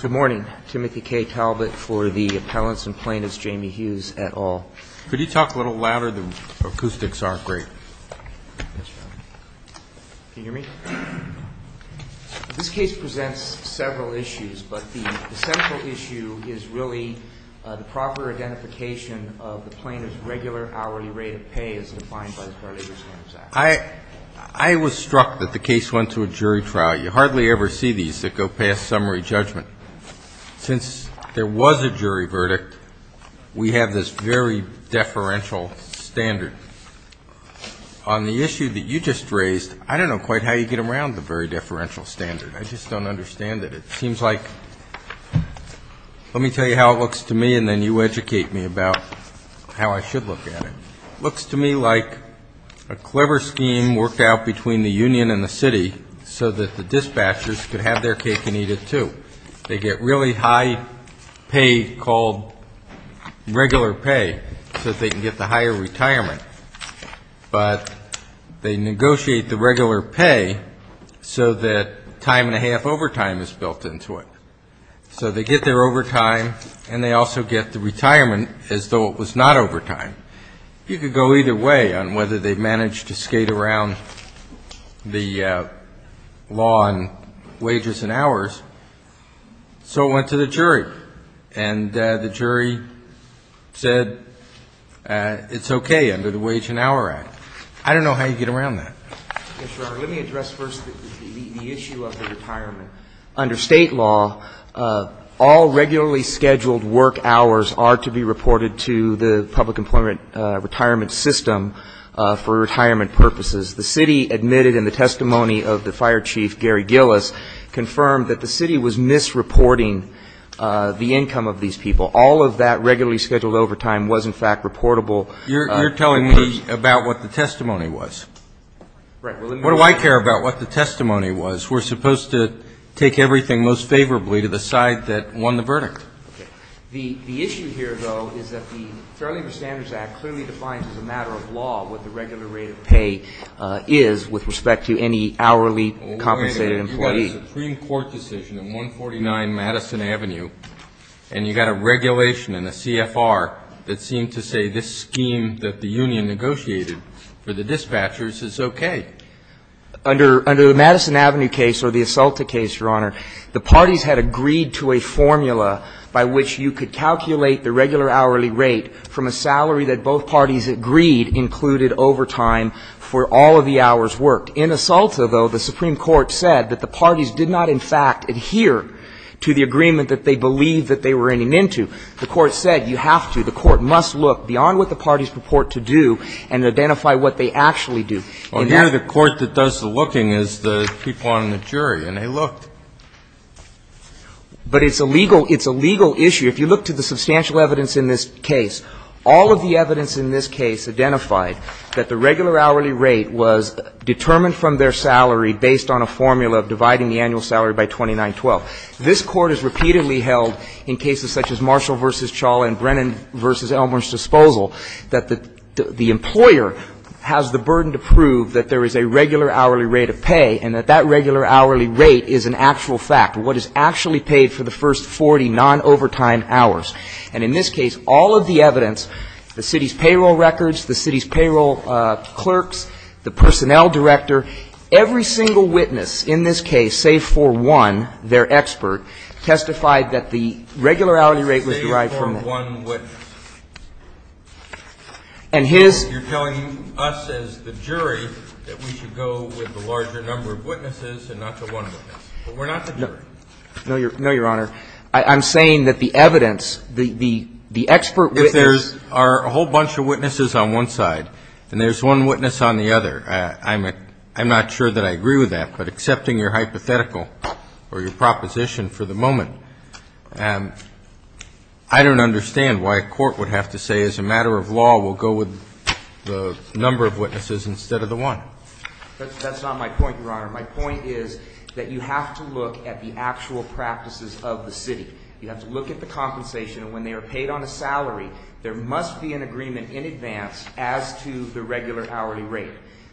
Good morning. Timothy K. Talbot for the Appellants and Plaintiffs, Jamie Hughes et al. Could you talk a little louder? The acoustics aren't great. Can you hear me? This case presents several issues, but the central issue is really the proper identification of the plaintiff's regular hourly rate of pay as defined by the Fair Labor Standards Act. I was struck that the case went to a jury trial. You hardly ever see these that go past summary judgment. Since there was a jury verdict, we have this very deferential standard. On the issue that you just raised, I don't know quite how you get around the very deferential standard. I just don't understand it. It seems like – let me tell you how it looks to me and then you educate me about how I should look at it. It looks to me like a clever scheme worked out between the union and the city so that the dispatchers could have their cake and eat it too. They get really high pay called regular pay so that they can get the higher retirement, but they negotiate the regular pay so that time and a half overtime is built into it. So they get their overtime, and they also get the retirement as though it was not overtime. You could go either way on whether they managed to skate around the law on wages and hours. So it went to the jury, and the jury said it's okay under the Wage and Hour Act. I don't know how you get around that. Let me address first the issue of the retirement. Under State law, all regularly scheduled work hours are to be reported to the public employment retirement system for retirement purposes. The city admitted in the testimony of the fire chief, Gary Gillis, confirmed that the city was misreporting the income of these people. All of that regularly scheduled overtime was, in fact, reportable. You're telling me about what the testimony was. Right. What do I care about what the testimony was? We're supposed to take everything most favorably to the side that won the verdict. Okay. The issue here, though, is that the Fair Labor Standards Act clearly defines as a matter of law what the regular rate of pay is with respect to any hourly compensated employee. But a Supreme Court decision in 149 Madison Avenue, and you've got a regulation and a CFR that seem to say this scheme that the union negotiated for the dispatchers is okay. Under the Madison Avenue case or the Asalta case, Your Honor, the parties had agreed to a formula by which you could calculate the regular hourly rate from a salary that both parties agreed included overtime for all of the hours worked. In Asalta, though, the Supreme Court said that the parties did not, in fact, adhere to the agreement that they believed that they were in and into. The Court said you have to, the Court must look beyond what the parties purport to do and identify what they actually do. Well, here the Court that does the looking is the people on the jury, and they looked. But it's a legal issue. If you look to the substantial evidence in this case, all of the evidence in this case identified that the regular hourly rate was determined from their salary based on a formula of dividing the annual salary by 2912. This Court has repeatedly held in cases such as Marshall v. Chawla and Brennan v. Elmore's disposal that the employer has the burden to prove that there is a regular hourly rate of pay and that that regular hourly rate is an actual fact. And in this case, all of the evidence, the city's payroll records, the city's payroll clerks, the personnel director, every single witness in this case save for one, their expert, testified that the regular hourly rate was derived from that. You're telling us as the jury that we should go with the larger number of witnesses and not the one witness. But we're not the jury. No, Your Honor. I'm saying that the evidence, the expert witness. If there are a whole bunch of witnesses on one side and there's one witness on the other, I'm not sure that I agree with that. But accepting your hypothetical or your proposition for the moment, I don't understand why a court would have to say, as a matter of law, we'll go with the number of witnesses instead of the one. That's not my point, Your Honor. My point is that you have to look at the actual practices of the city. You have to look at the compensation. And when they are paid on a salary, there must be an agreement in advance as to the regular hourly rate.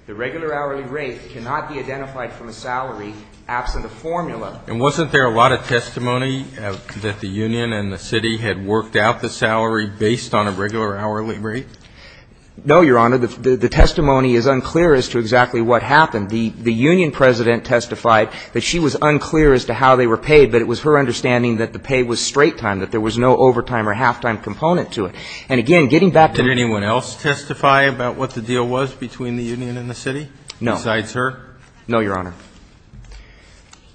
The regular hourly rate cannot be identified from a salary absent a formula. And wasn't there a lot of testimony that the union and the city had worked out the salary based on a regular hourly rate? No, Your Honor. The testimony is unclear as to exactly what happened. The union president testified that she was unclear as to how they were paid, but it was her understanding that the pay was straight time, that there was no overtime or half-time component to it. And again, getting back to the ---- Did anyone else testify about what the deal was between the union and the city? No. Besides her? No, Your Honor.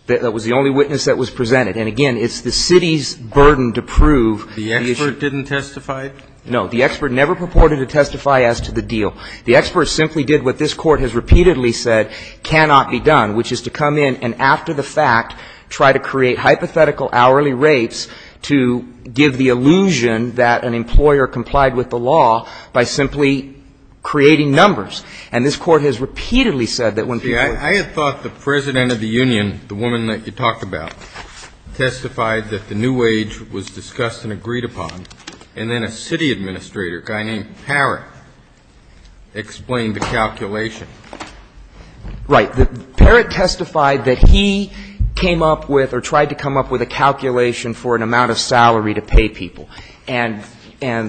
That was the only witness that was presented. And again, it's the city's burden to prove the issue. The expert didn't testify? The expert never purported to testify as to the deal. The expert simply did what this Court has repeatedly said cannot be done, which is to come in and after the fact try to create hypothetical hourly rates to give the illusion that an employer complied with the law by simply creating numbers. And this Court has repeatedly said that when people ---- See, I had thought the president of the union, the woman that you talked about, testified that the new wage was discussed and agreed upon, and then a city administrator, a guy named Parrott, explained the calculation. Right. Parrott testified that he came up with or tried to come up with a calculation for an amount of salary to pay people. And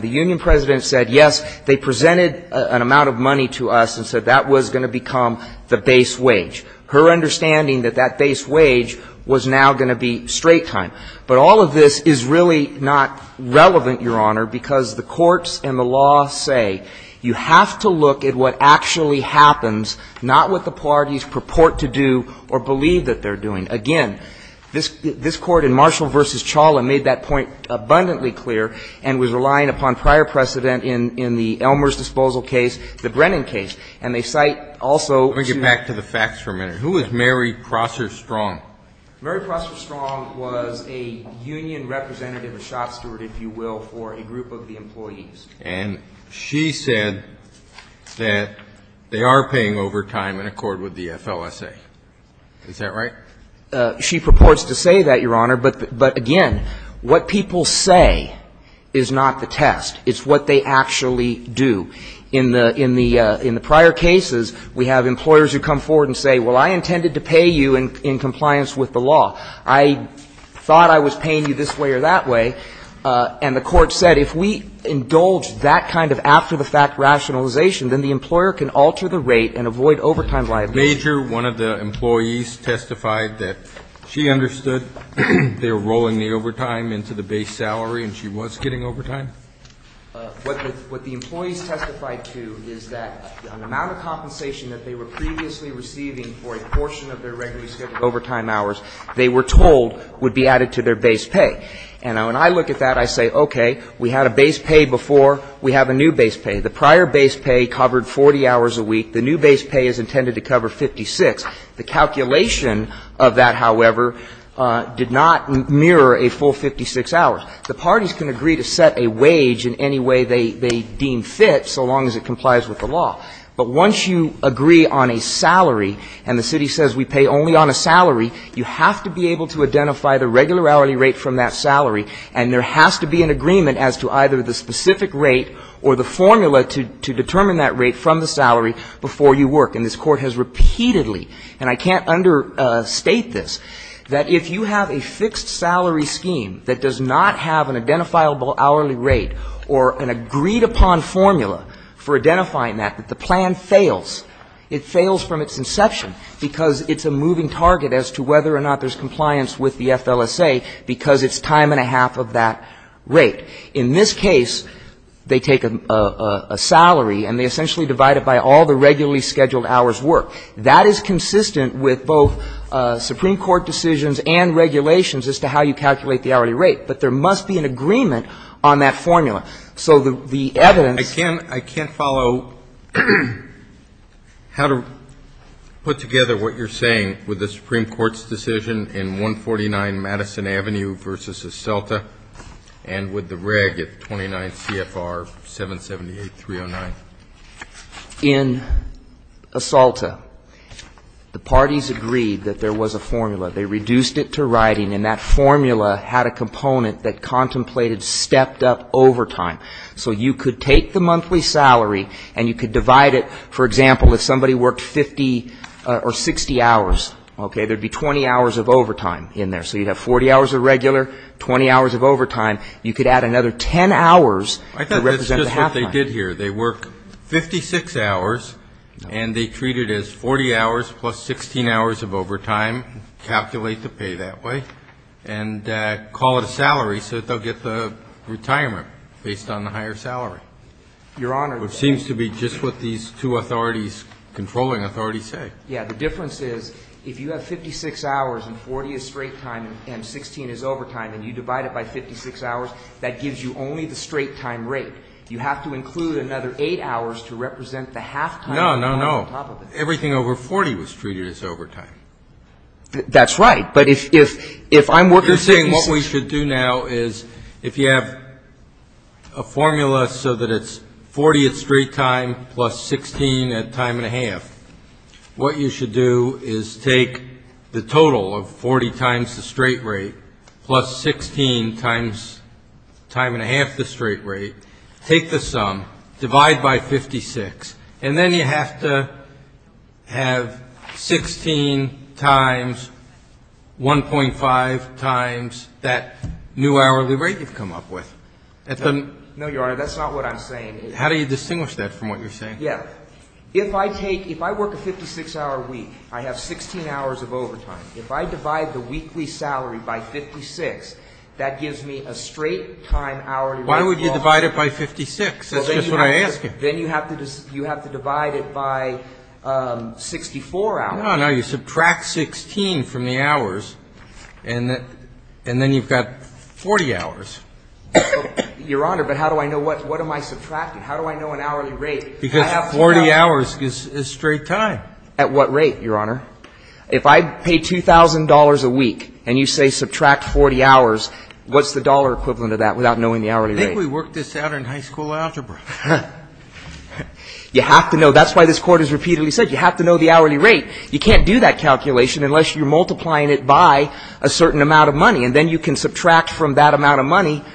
the union president said, yes, they presented an amount of money to us and said that was going to become the base wage. Her understanding that that base wage was now going to be straight time. But all of this is really not relevant, Your Honor, because the courts and the law say you have to look at what actually happens, not what the parties purport to do or believe that they're doing. Again, this Court in Marshall v. Chawlin made that point abundantly clear and was relying upon prior precedent in the Elmer's disposal case, the Brennan case. And they cite also to ---- Let me get back to the facts for a minute. Who is Mary Prosser Strong? Mary Prosser Strong was a union representative, a shot steward, if you will, for a group of the employees. And she said that they are paying overtime in accord with the FLSA. Is that right? She purports to say that, Your Honor. But, again, what people say is not the test. It's what they actually do. In the prior cases, we have employers who come forward and say, well, I intended to pay you in compliance with the law. I thought I was paying you this way or that way. And the Court said, if we indulge that kind of after-the-fact rationalization, then the employer can alter the rate and avoid overtime liability. Major, one of the employees testified that she understood they were rolling the overtime into the base salary and she was getting overtime. What the employees testified to is that the amount of compensation that they were previously receiving for a portion of their regularly scheduled overtime hours, they were told would be added to their base pay. And when I look at that, I say, okay, we had a base pay before. We have a new base pay. The prior base pay covered 40 hours a week. The new base pay is intended to cover 56. The calculation of that, however, did not mirror a full 56 hours. The parties can agree to set a wage in any way they deem fit so long as it complies with the law. But once you agree on a salary and the city says we pay only on a salary, you have to be able to identify the regular hourly rate from that salary and there has to be an agreement as to either the specific rate or the formula to determine that rate from the salary before you work. And this Court has repeatedly, and I can't understate this, that if you have a fixed salary scheme that does not have an identifiable hourly rate or an agreed-upon formula for identifying that, that the plan fails. It fails from its inception because it's a moving target as to whether or not there's compliance with the FLSA because it's time and a half of that rate. In this case, they take a salary and they essentially divide it by all the regularly scheduled hours worked. That is consistent with both Supreme Court decisions and regulations as to how you calculate the hourly rate. But there must be an agreement on that formula. So the evidence ---- I can't follow how to put together what you're saying with the Supreme Court's decision in 149 Madison Avenue v. Esalta and with the reg at 29 CFR 778.309. In Esalta, the parties agreed that there was a formula. They reduced it to writing and that formula had a component that contemplated stepped-up overtime. So you could take the monthly salary and you could divide it. For example, if somebody worked 50 or 60 hours, okay, there would be 20 hours of overtime in there. So you'd have 40 hours of regular, 20 hours of overtime. You could add another 10 hours to represent the half-time. I thought that's just what they did here. They work 56 hours and they treat it as 40 hours plus 16 hours of overtime, calculate the pay that way, and call it a salary so that they'll get the retirement based on the higher salary. Your Honor ---- Which seems to be just what these two authorities, controlling authorities, say. Yeah. The difference is if you have 56 hours and 40 is straight time and 16 is overtime and you divide it by 56 hours, that gives you only the straight-time rate. You have to include another 8 hours to represent the half-time. No, no, no. Everything over 40 was treated as overtime. That's right. But if I'm working ---- You're saying what we should do now is if you have a formula so that it's 40 at straight time plus 16 at time and a half, what you should do is take the total of 40 times the straight rate plus 16 times time and a half the straight rate, take the sum, divide by 56, and then you have to have 16 times 1.5 times that new hourly rate you've come up with. No, Your Honor, that's not what I'm saying. How do you distinguish that from what you're saying? Yeah. If I take ---- If I work a 56-hour week, I have 16 hours of overtime. If I divide the weekly salary by 56, that gives me a straight-time hourly rate. Why would you divide it by 56? That's just what I'm asking. Then you have to divide it by 64 hours. No, no. You subtract 16 from the hours, and then you've got 40 hours. Your Honor, but how do I know what? What am I subtracting? How do I know an hourly rate? Because 40 hours is straight time. At what rate, Your Honor? If I pay $2,000 a week and you say subtract 40 hours, what's the dollar equivalent of that without knowing the hourly rate? I think we worked this out in high school algebra. You have to know. That's why this Court has repeatedly said you have to know the hourly rate. You can't do that calculation unless you're multiplying it by a certain amount of money, and then you can subtract from that amount of money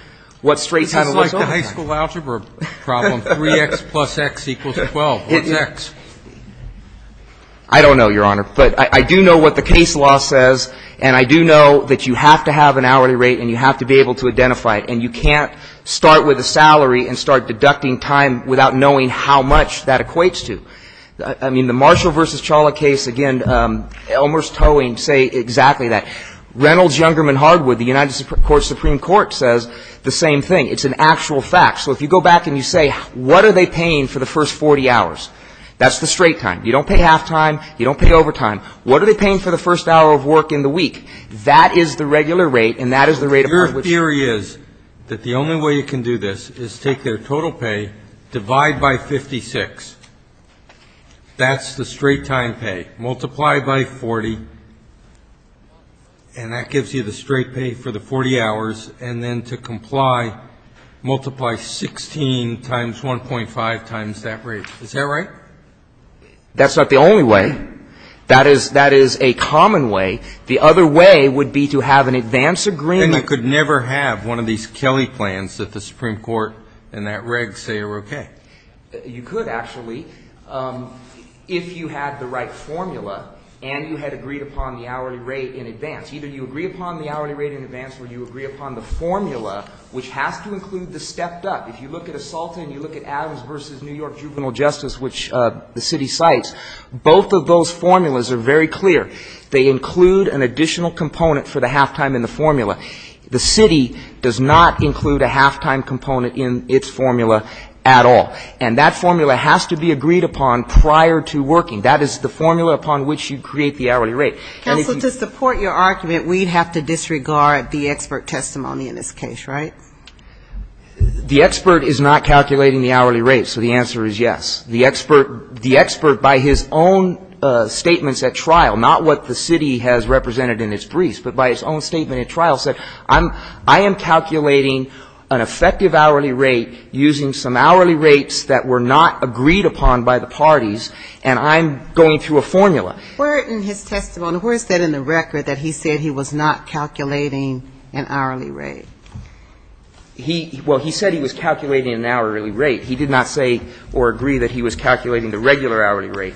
what straight time is overtime. This is like the high school algebra problem, 3X plus X equals 12. What's X? I don't know, Your Honor. But I do know what the case law says, and I do know that you have to have an hourly rate and you have to be able to identify it, and you can't start with a salary and start deducting time without knowing how much that equates to. I mean, the Marshall v. Charla case, again, Elmer's Towing say exactly that. Reynolds-Yungerman-Hardwood, the United States Supreme Court, says the same thing. It's an actual fact. So if you go back and you say, what are they paying for the first 40 hours? That's the straight time. You don't pay halftime. You don't pay overtime. What are they paying for the first hour of work in the week? That is the regular rate, and that is the rate of how much they're paying. Your theory is that the only way you can do this is take their total pay, divide by 56. That's the straight time pay. Multiply by 40, and that gives you the straight pay for the 40 hours, and then to comply, multiply 16 times 1.5 times that rate. Is that right? That's not the only way. That is a common way. The other way would be to have an advance agreement. And you could never have one of these Kelly plans that the Supreme Court and that reg say are okay. You could, actually, if you had the right formula and you had agreed upon the hourly rate in advance. Either you agree upon the hourly rate in advance or you agree upon the formula, which has to include the stepped up. If you look at Assalta and you look at Adams v. New York Juvenile Justice, which the city cites, both of those formulas are very clear. They include an additional component for the halftime in the formula. The city does not include a halftime component in its formula at all. And that formula has to be agreed upon prior to working. That is the formula upon which you create the hourly rate. Counsel, to support your argument, we'd have to disregard the expert testimony in this case, right? The expert is not calculating the hourly rate, so the answer is yes. The expert, by his own statements at trial, not what the city has represented in its briefs, but by his own statement at trial, said, I am calculating an effective hourly rate using some hourly rates that were not agreed upon by the parties, and I'm going through a formula. Where in his testimony, where is that in the record that he said he was not calculating an hourly rate? He, well, he said he was calculating an hourly rate. He did not say or agree that he was calculating the regular hourly rate,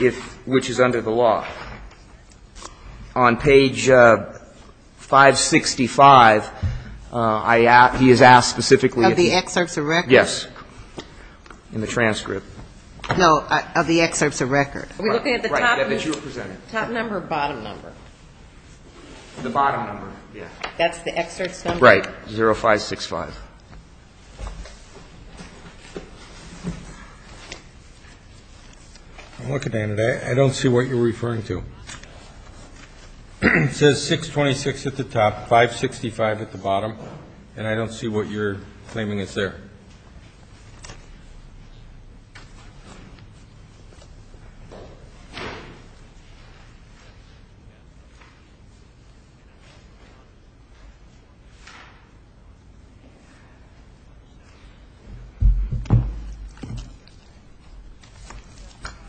if, which is under the law. On page 565, I asked, he has asked specifically. Of the excerpts of record? Yes. In the transcript. No, of the excerpts of record. Are we looking at the top number or bottom number? The bottom number, yes. That's the excerpts number? Right, 0565. I'm looking at it. I don't see what you're referring to. It says 626 at the top, 565 at the bottom, and I don't see what you're claiming is there.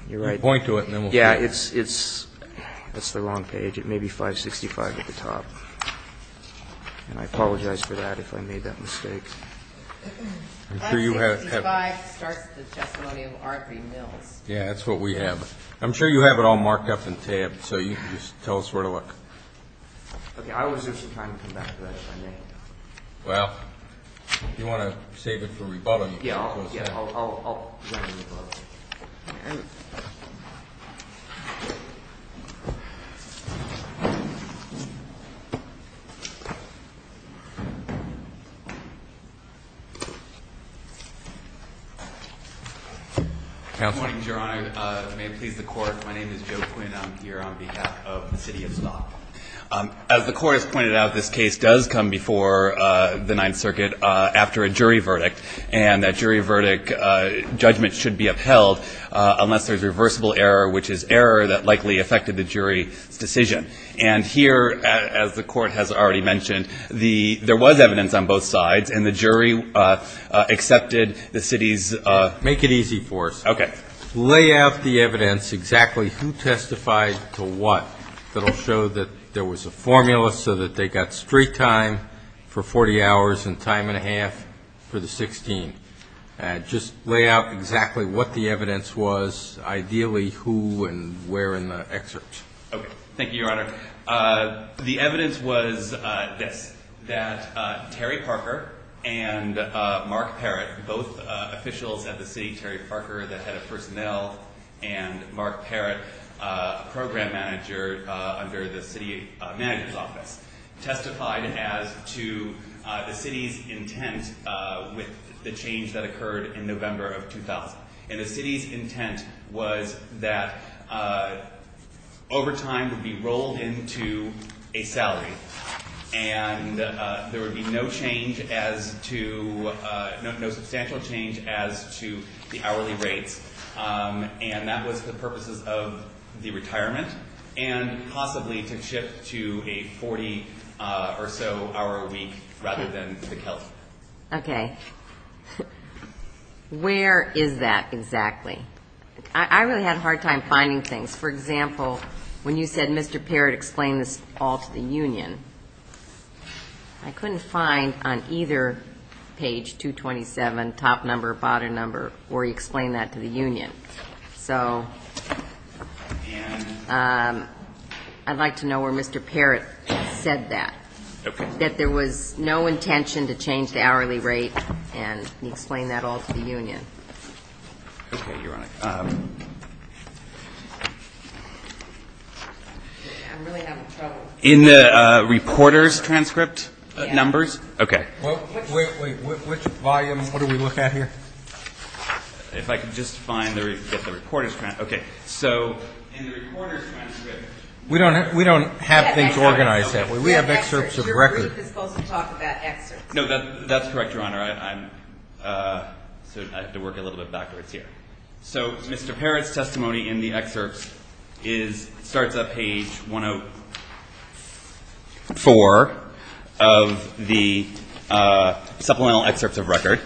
You're right. Point to it and then we'll figure it out. Yeah, it's, it's, that's the wrong page. It may be 565 at the top. And I apologize for that if I made that mistake. 565 starts the testimony of R.P. Mills. Yeah, that's what we have. I'm sure you have it all marked up and tabbed so you can just tell us where to look. Okay, I will reserve some time to come back to that if I may. Well, if you want to save it for rebuttal, you can. Yeah, I'll, I'll, I'll. Counsel. Good morning, Your Honor. May it please the Court. My name is Joe Quinn. I'm here on behalf of the City of Stock. As the Court has pointed out, this case does come before the Ninth Circuit after a jury verdict. And that jury verdict judgment should be upheld unless there's reversible error, which is error that likely affected the jury's decision. And here, as the Court has already mentioned, the, there was evidence on both sides and the jury accepted the city's. Make it easy for us. Okay. Lay out the evidence, exactly who testified to what, that will show that there was a formula so that they got street time for 40 hours and time and a half for the 16. Just lay out exactly what the evidence was, ideally who and where in the excerpt. Thank you, Your Honor. The evidence was this, that Terry Parker and Mark Parrott, both officials at the city, Terry Parker, the head of personnel, testified as to the city's intent with the change that occurred in November of 2000. And the city's intent was that overtime would be rolled into a salary and there would be no change as to, no substantial change as to the hourly rates. And that was the purposes of the retirement and possibly to shift to a 40 or so hour a week rather than the kelp. Okay. Where is that exactly? I really had a hard time finding things. For example, when you said Mr. Parrott explained this all to the union, I couldn't find on either page 227, top number, bottom number, where he explained that to the union. So I'd like to know where Mr. Parrott said that. That there was no intention to change the hourly rate and he explained that all to the union. Okay, Your Honor. I'm really having trouble. In the reporter's transcript numbers? Yes. Okay. Wait, wait. Which volume? What are we looking at here? If I could just find the reporter's transcript. Okay. So in the reporter's transcript. We don't have things organized that way. We have excerpts of records. Your group is supposed to talk about excerpts. No, that's correct, Your Honor. I have to work a little bit backwards here. So Mr. Parrott's testimony in the excerpts starts at page 104 of the supplemental excerpts of record.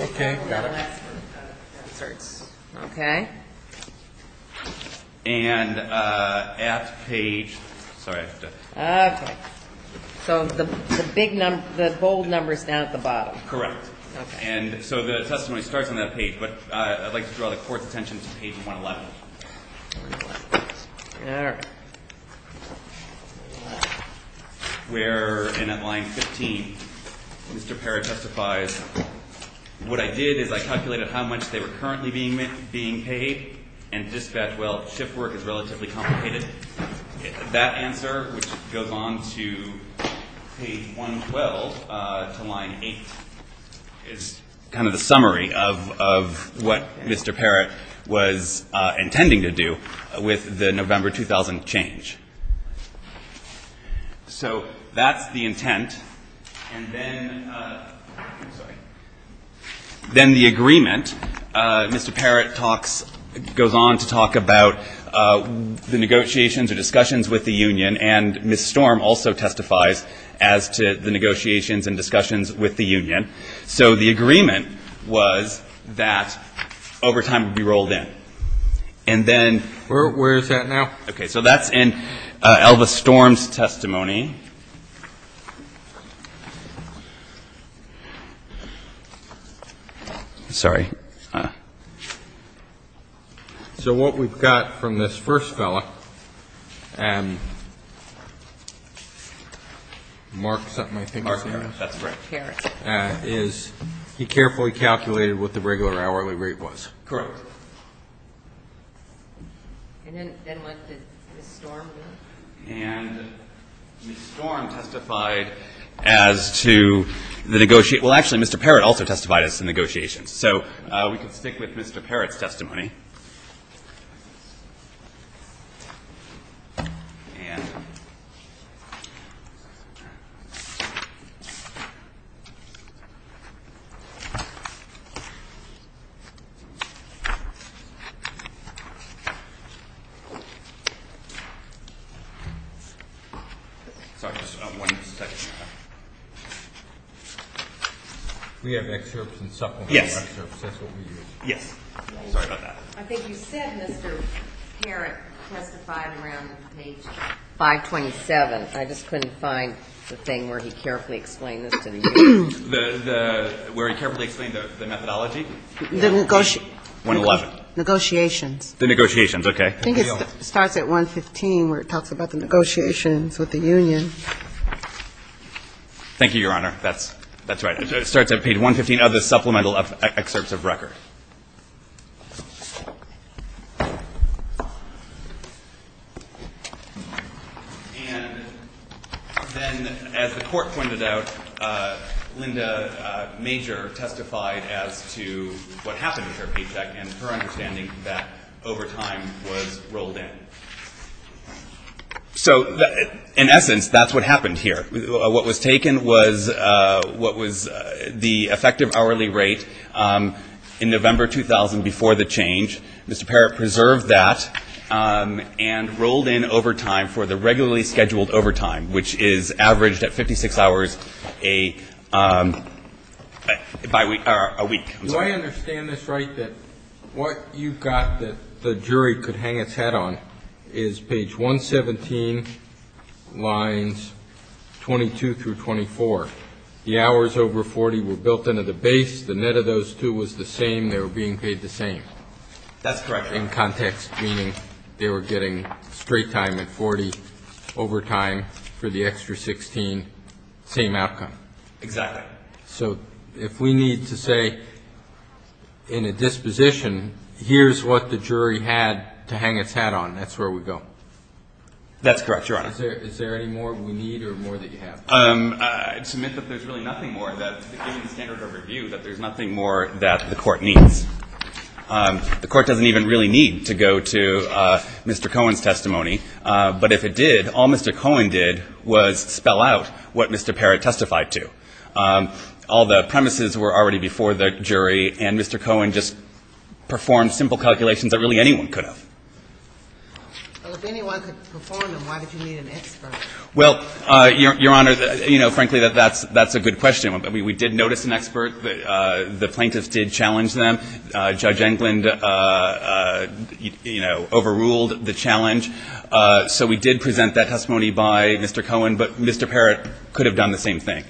Okay. Got it. Okay. And at page ‑‑ sorry. Okay. So the bold number is down at the bottom. Correct. Okay. And so the testimony starts on that page. But I'd like to draw the Court's attention to page 111. All right. Where in at line 15, Mr. Parrott testifies, what I did is I calculated how much they were currently being paid and dispatched, well, shift work is relatively complicated. That answer, which goes on to page 112 to line 8, is kind of the summary of what Mr. Parrott was intending to do with the November 2000 change. And then ‑‑ I'm sorry. Then the agreement, Mr. Parrott talks ‑‑ goes on to talk about the negotiations or discussions with the union. And Ms. Storm also testifies as to the negotiations and discussions with the union. So the agreement was that overtime would be rolled in. And then ‑‑ Where is that now? Okay. Okay. So that's in Elvis Storm's testimony. Sorry. So what we've got from this first fellow, Mark something I think is his name. Mark Harris. That's right. Harris. Is he carefully calculated what the regular hourly rate was. Correct. And then what did Ms. Storm do? And Ms. Storm testified as to the negotiations. Well, actually, Mr. Parrott also testified as to the negotiations. So we can stick with Mr. Parrott's testimony. And ‑‑ Sorry, just one second. We have excerpts and supplementary excerpts. That's what we use. Yes. Sorry about that. I think you said Mr. Parrott testified around page 527. I just couldn't find the thing where he carefully explained this to the union. Where he carefully explained the methodology? The negotiations. The negotiations, okay. I think it starts at 115 where it talks about the negotiations with the union. Thank you, Your Honor. That's right. It starts at page 115 of the supplemental excerpts of record. And then as the court pointed out, Linda Major testified as to what happened with her paycheck and her understanding that over time was rolled in. So in essence, that's what happened here. What was taken was the effective hourly rate in November 2000 before the change. Mr. Parrott preserved that and rolled in over time for the regularly scheduled overtime, which is averaged at 56 hours a week. Do I understand this right, that what you've got that the jury could hang its head on is page 117, lines 22 through 24. The hours over 40 were built into the base. The net of those two was the same. They were being paid the same. That's correct. In context, meaning they were getting straight time at 40 overtime for the extra 16. Same outcome. Exactly. So if we need to say in a disposition, here's what the jury had to hang its head on, that's where we go. That's correct, Your Honor. Is there any more we need or more that you have? I'd submit that there's really nothing more that, given the standard of review, that there's nothing more that the court needs. The court doesn't even really need to go to Mr. Cohen's testimony. But if it did, all Mr. Cohen did was spell out what Mr. Parrott testified to. All the premises were already before the jury, and Mr. Cohen just performed simple calculations that really anyone could have. Well, if anyone could perform them, why did you need an expert? Well, Your Honor, you know, frankly, that's a good question. We did notice an expert. The plaintiffs did challenge them. Judge Englund, you know, overruled the challenge. So we did present that testimony by Mr. Cohen. But Mr. Parrott could have done the same thing.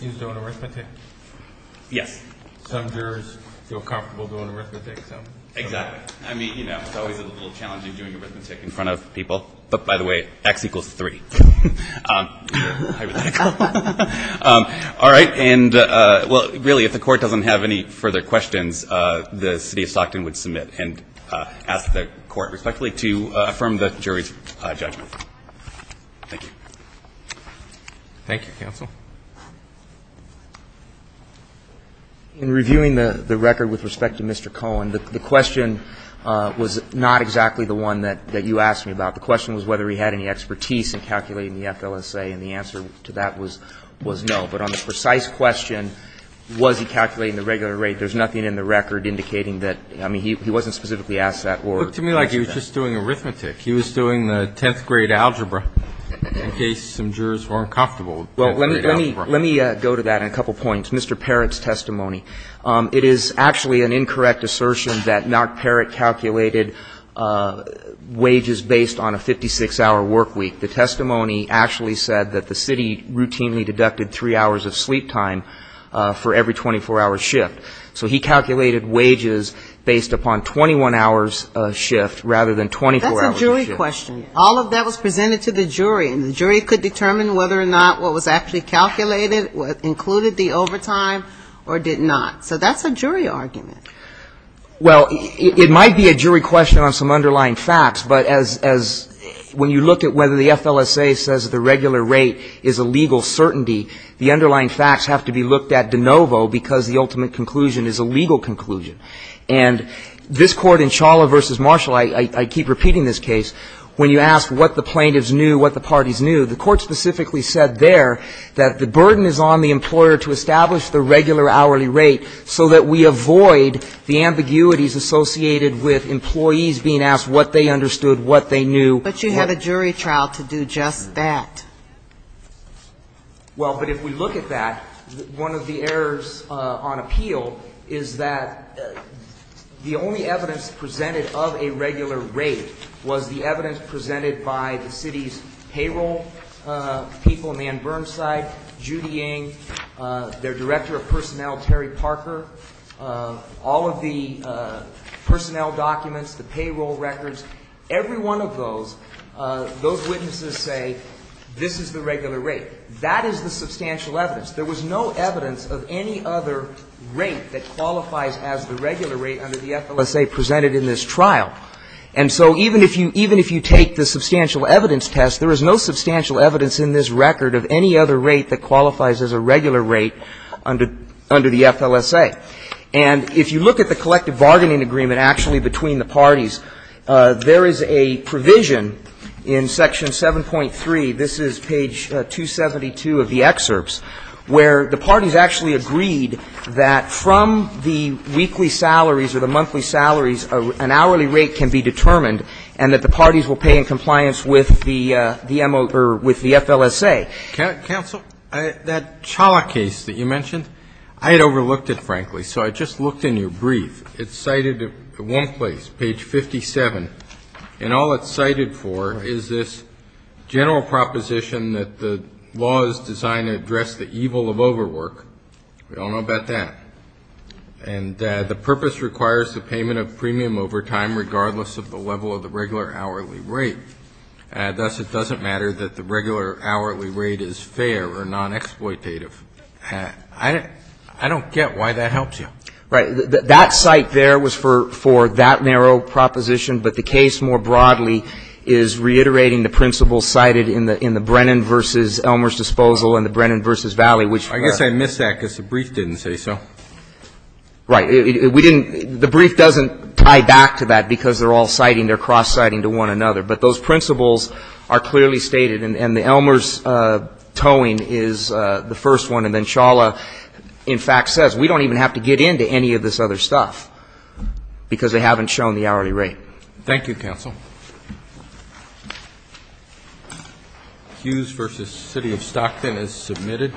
He was doing arithmetic? Yes. Some jurors feel comfortable doing arithmetic, some don't. Exactly. I mean, you know, it's always a little challenging doing arithmetic in front of people. But, by the way, X equals 3. You're hypothetical. All right. And, well, really, if the court doesn't have any further questions, the city of Stockton would submit and ask the court respectfully to affirm the jury's judgment. Thank you. Thank you, counsel. In reviewing the record with respect to Mr. Cohen, the question was not exactly the one that you asked me about. The question was whether he had any expertise in calculating the FLSA, and the answer to that was no. But on the precise question, was he calculating the regular rate, there's nothing in the record indicating that. I mean, he wasn't specifically asked that. It looked to me like he was just doing arithmetic. He was doing the 10th grade algebra in case some jurors were uncomfortable with 10th grade algebra. Well, let me go to that in a couple points. Mr. Parrott's testimony, it is actually an incorrect assertion that Mark Parrott calculated wages based on a 56-hour work week. The testimony actually said that the city routinely deducted three hours of sleep time for every 24-hour shift. So he calculated wages based upon 21-hour shift rather than 24-hour shift. That's a jury question. All of that was presented to the jury, and the jury could determine whether or not what was actually calculated included the overtime or did not. So that's a jury argument. Well, it might be a jury question on some underlying facts, but as when you look at whether the FLSA says the regular rate is a legal certainty, the underlying facts have to be looked at de novo because the ultimate conclusion is a legal conclusion. And this Court in Chawla v. Marshall, I keep repeating this case, when you ask what the plaintiffs knew, what the parties knew, the Court specifically said there that the burden is on the employer to establish the regular hourly rate so that we avoid the ambiguities associated with employees being asked what they understood, what they knew. But you have a jury trial to do just that. Well, but if we look at that, one of the errors on appeal is that the only evidence presented of a regular rate was the evidence presented by the city's payroll people, Ann Burnside, Judy Ng, their Director of Personnel, Terry Parker, all of the personnel documents, the payroll records, every one of those, those witnesses say this is the regular rate. That is the substantial evidence. There was no evidence of any other rate that qualifies as the regular rate under the FLSA presented in this trial. And so even if you take the substantial evidence test, there is no substantial evidence in this record of any other rate that qualifies as a regular rate under the FLSA. All right. And if you look at the collective bargaining agreement actually between the parties, there is a provision in Section 7.3, this is page 272 of the excerpts, where the parties actually agreed that from the weekly salaries or the monthly salaries, an hourly rate can be determined and that the parties will pay in compliance with the MO or with the FLSA. Counsel, that Cholla case that you mentioned, I had overlooked it, frankly. So I just looked in your brief. It's cited at one place, page 57, and all it's cited for is this general proposition that the law is designed to address the evil of overwork. We all know about that. And the purpose requires the payment of premium over time regardless of the level of the regular hourly rate. And thus it doesn't matter that the regular hourly rate is fair or non-exploitative. I don't get why that helps you. Right. That cite there was for that narrow proposition, but the case more broadly is reiterating the principles cited in the Brennan v. Elmer's Disposal and the Brennan v. Valley, which are. I guess I missed that because the brief didn't say so. Right. We didn't – the brief doesn't tie back to that because they're all citing, they're are clearly stated. And the Elmer's towing is the first one. And then Cholla, in fact, says we don't even have to get into any of this other stuff because they haven't shown the hourly rate. Thank you, counsel. Hughes v. City of Stockton is submitted.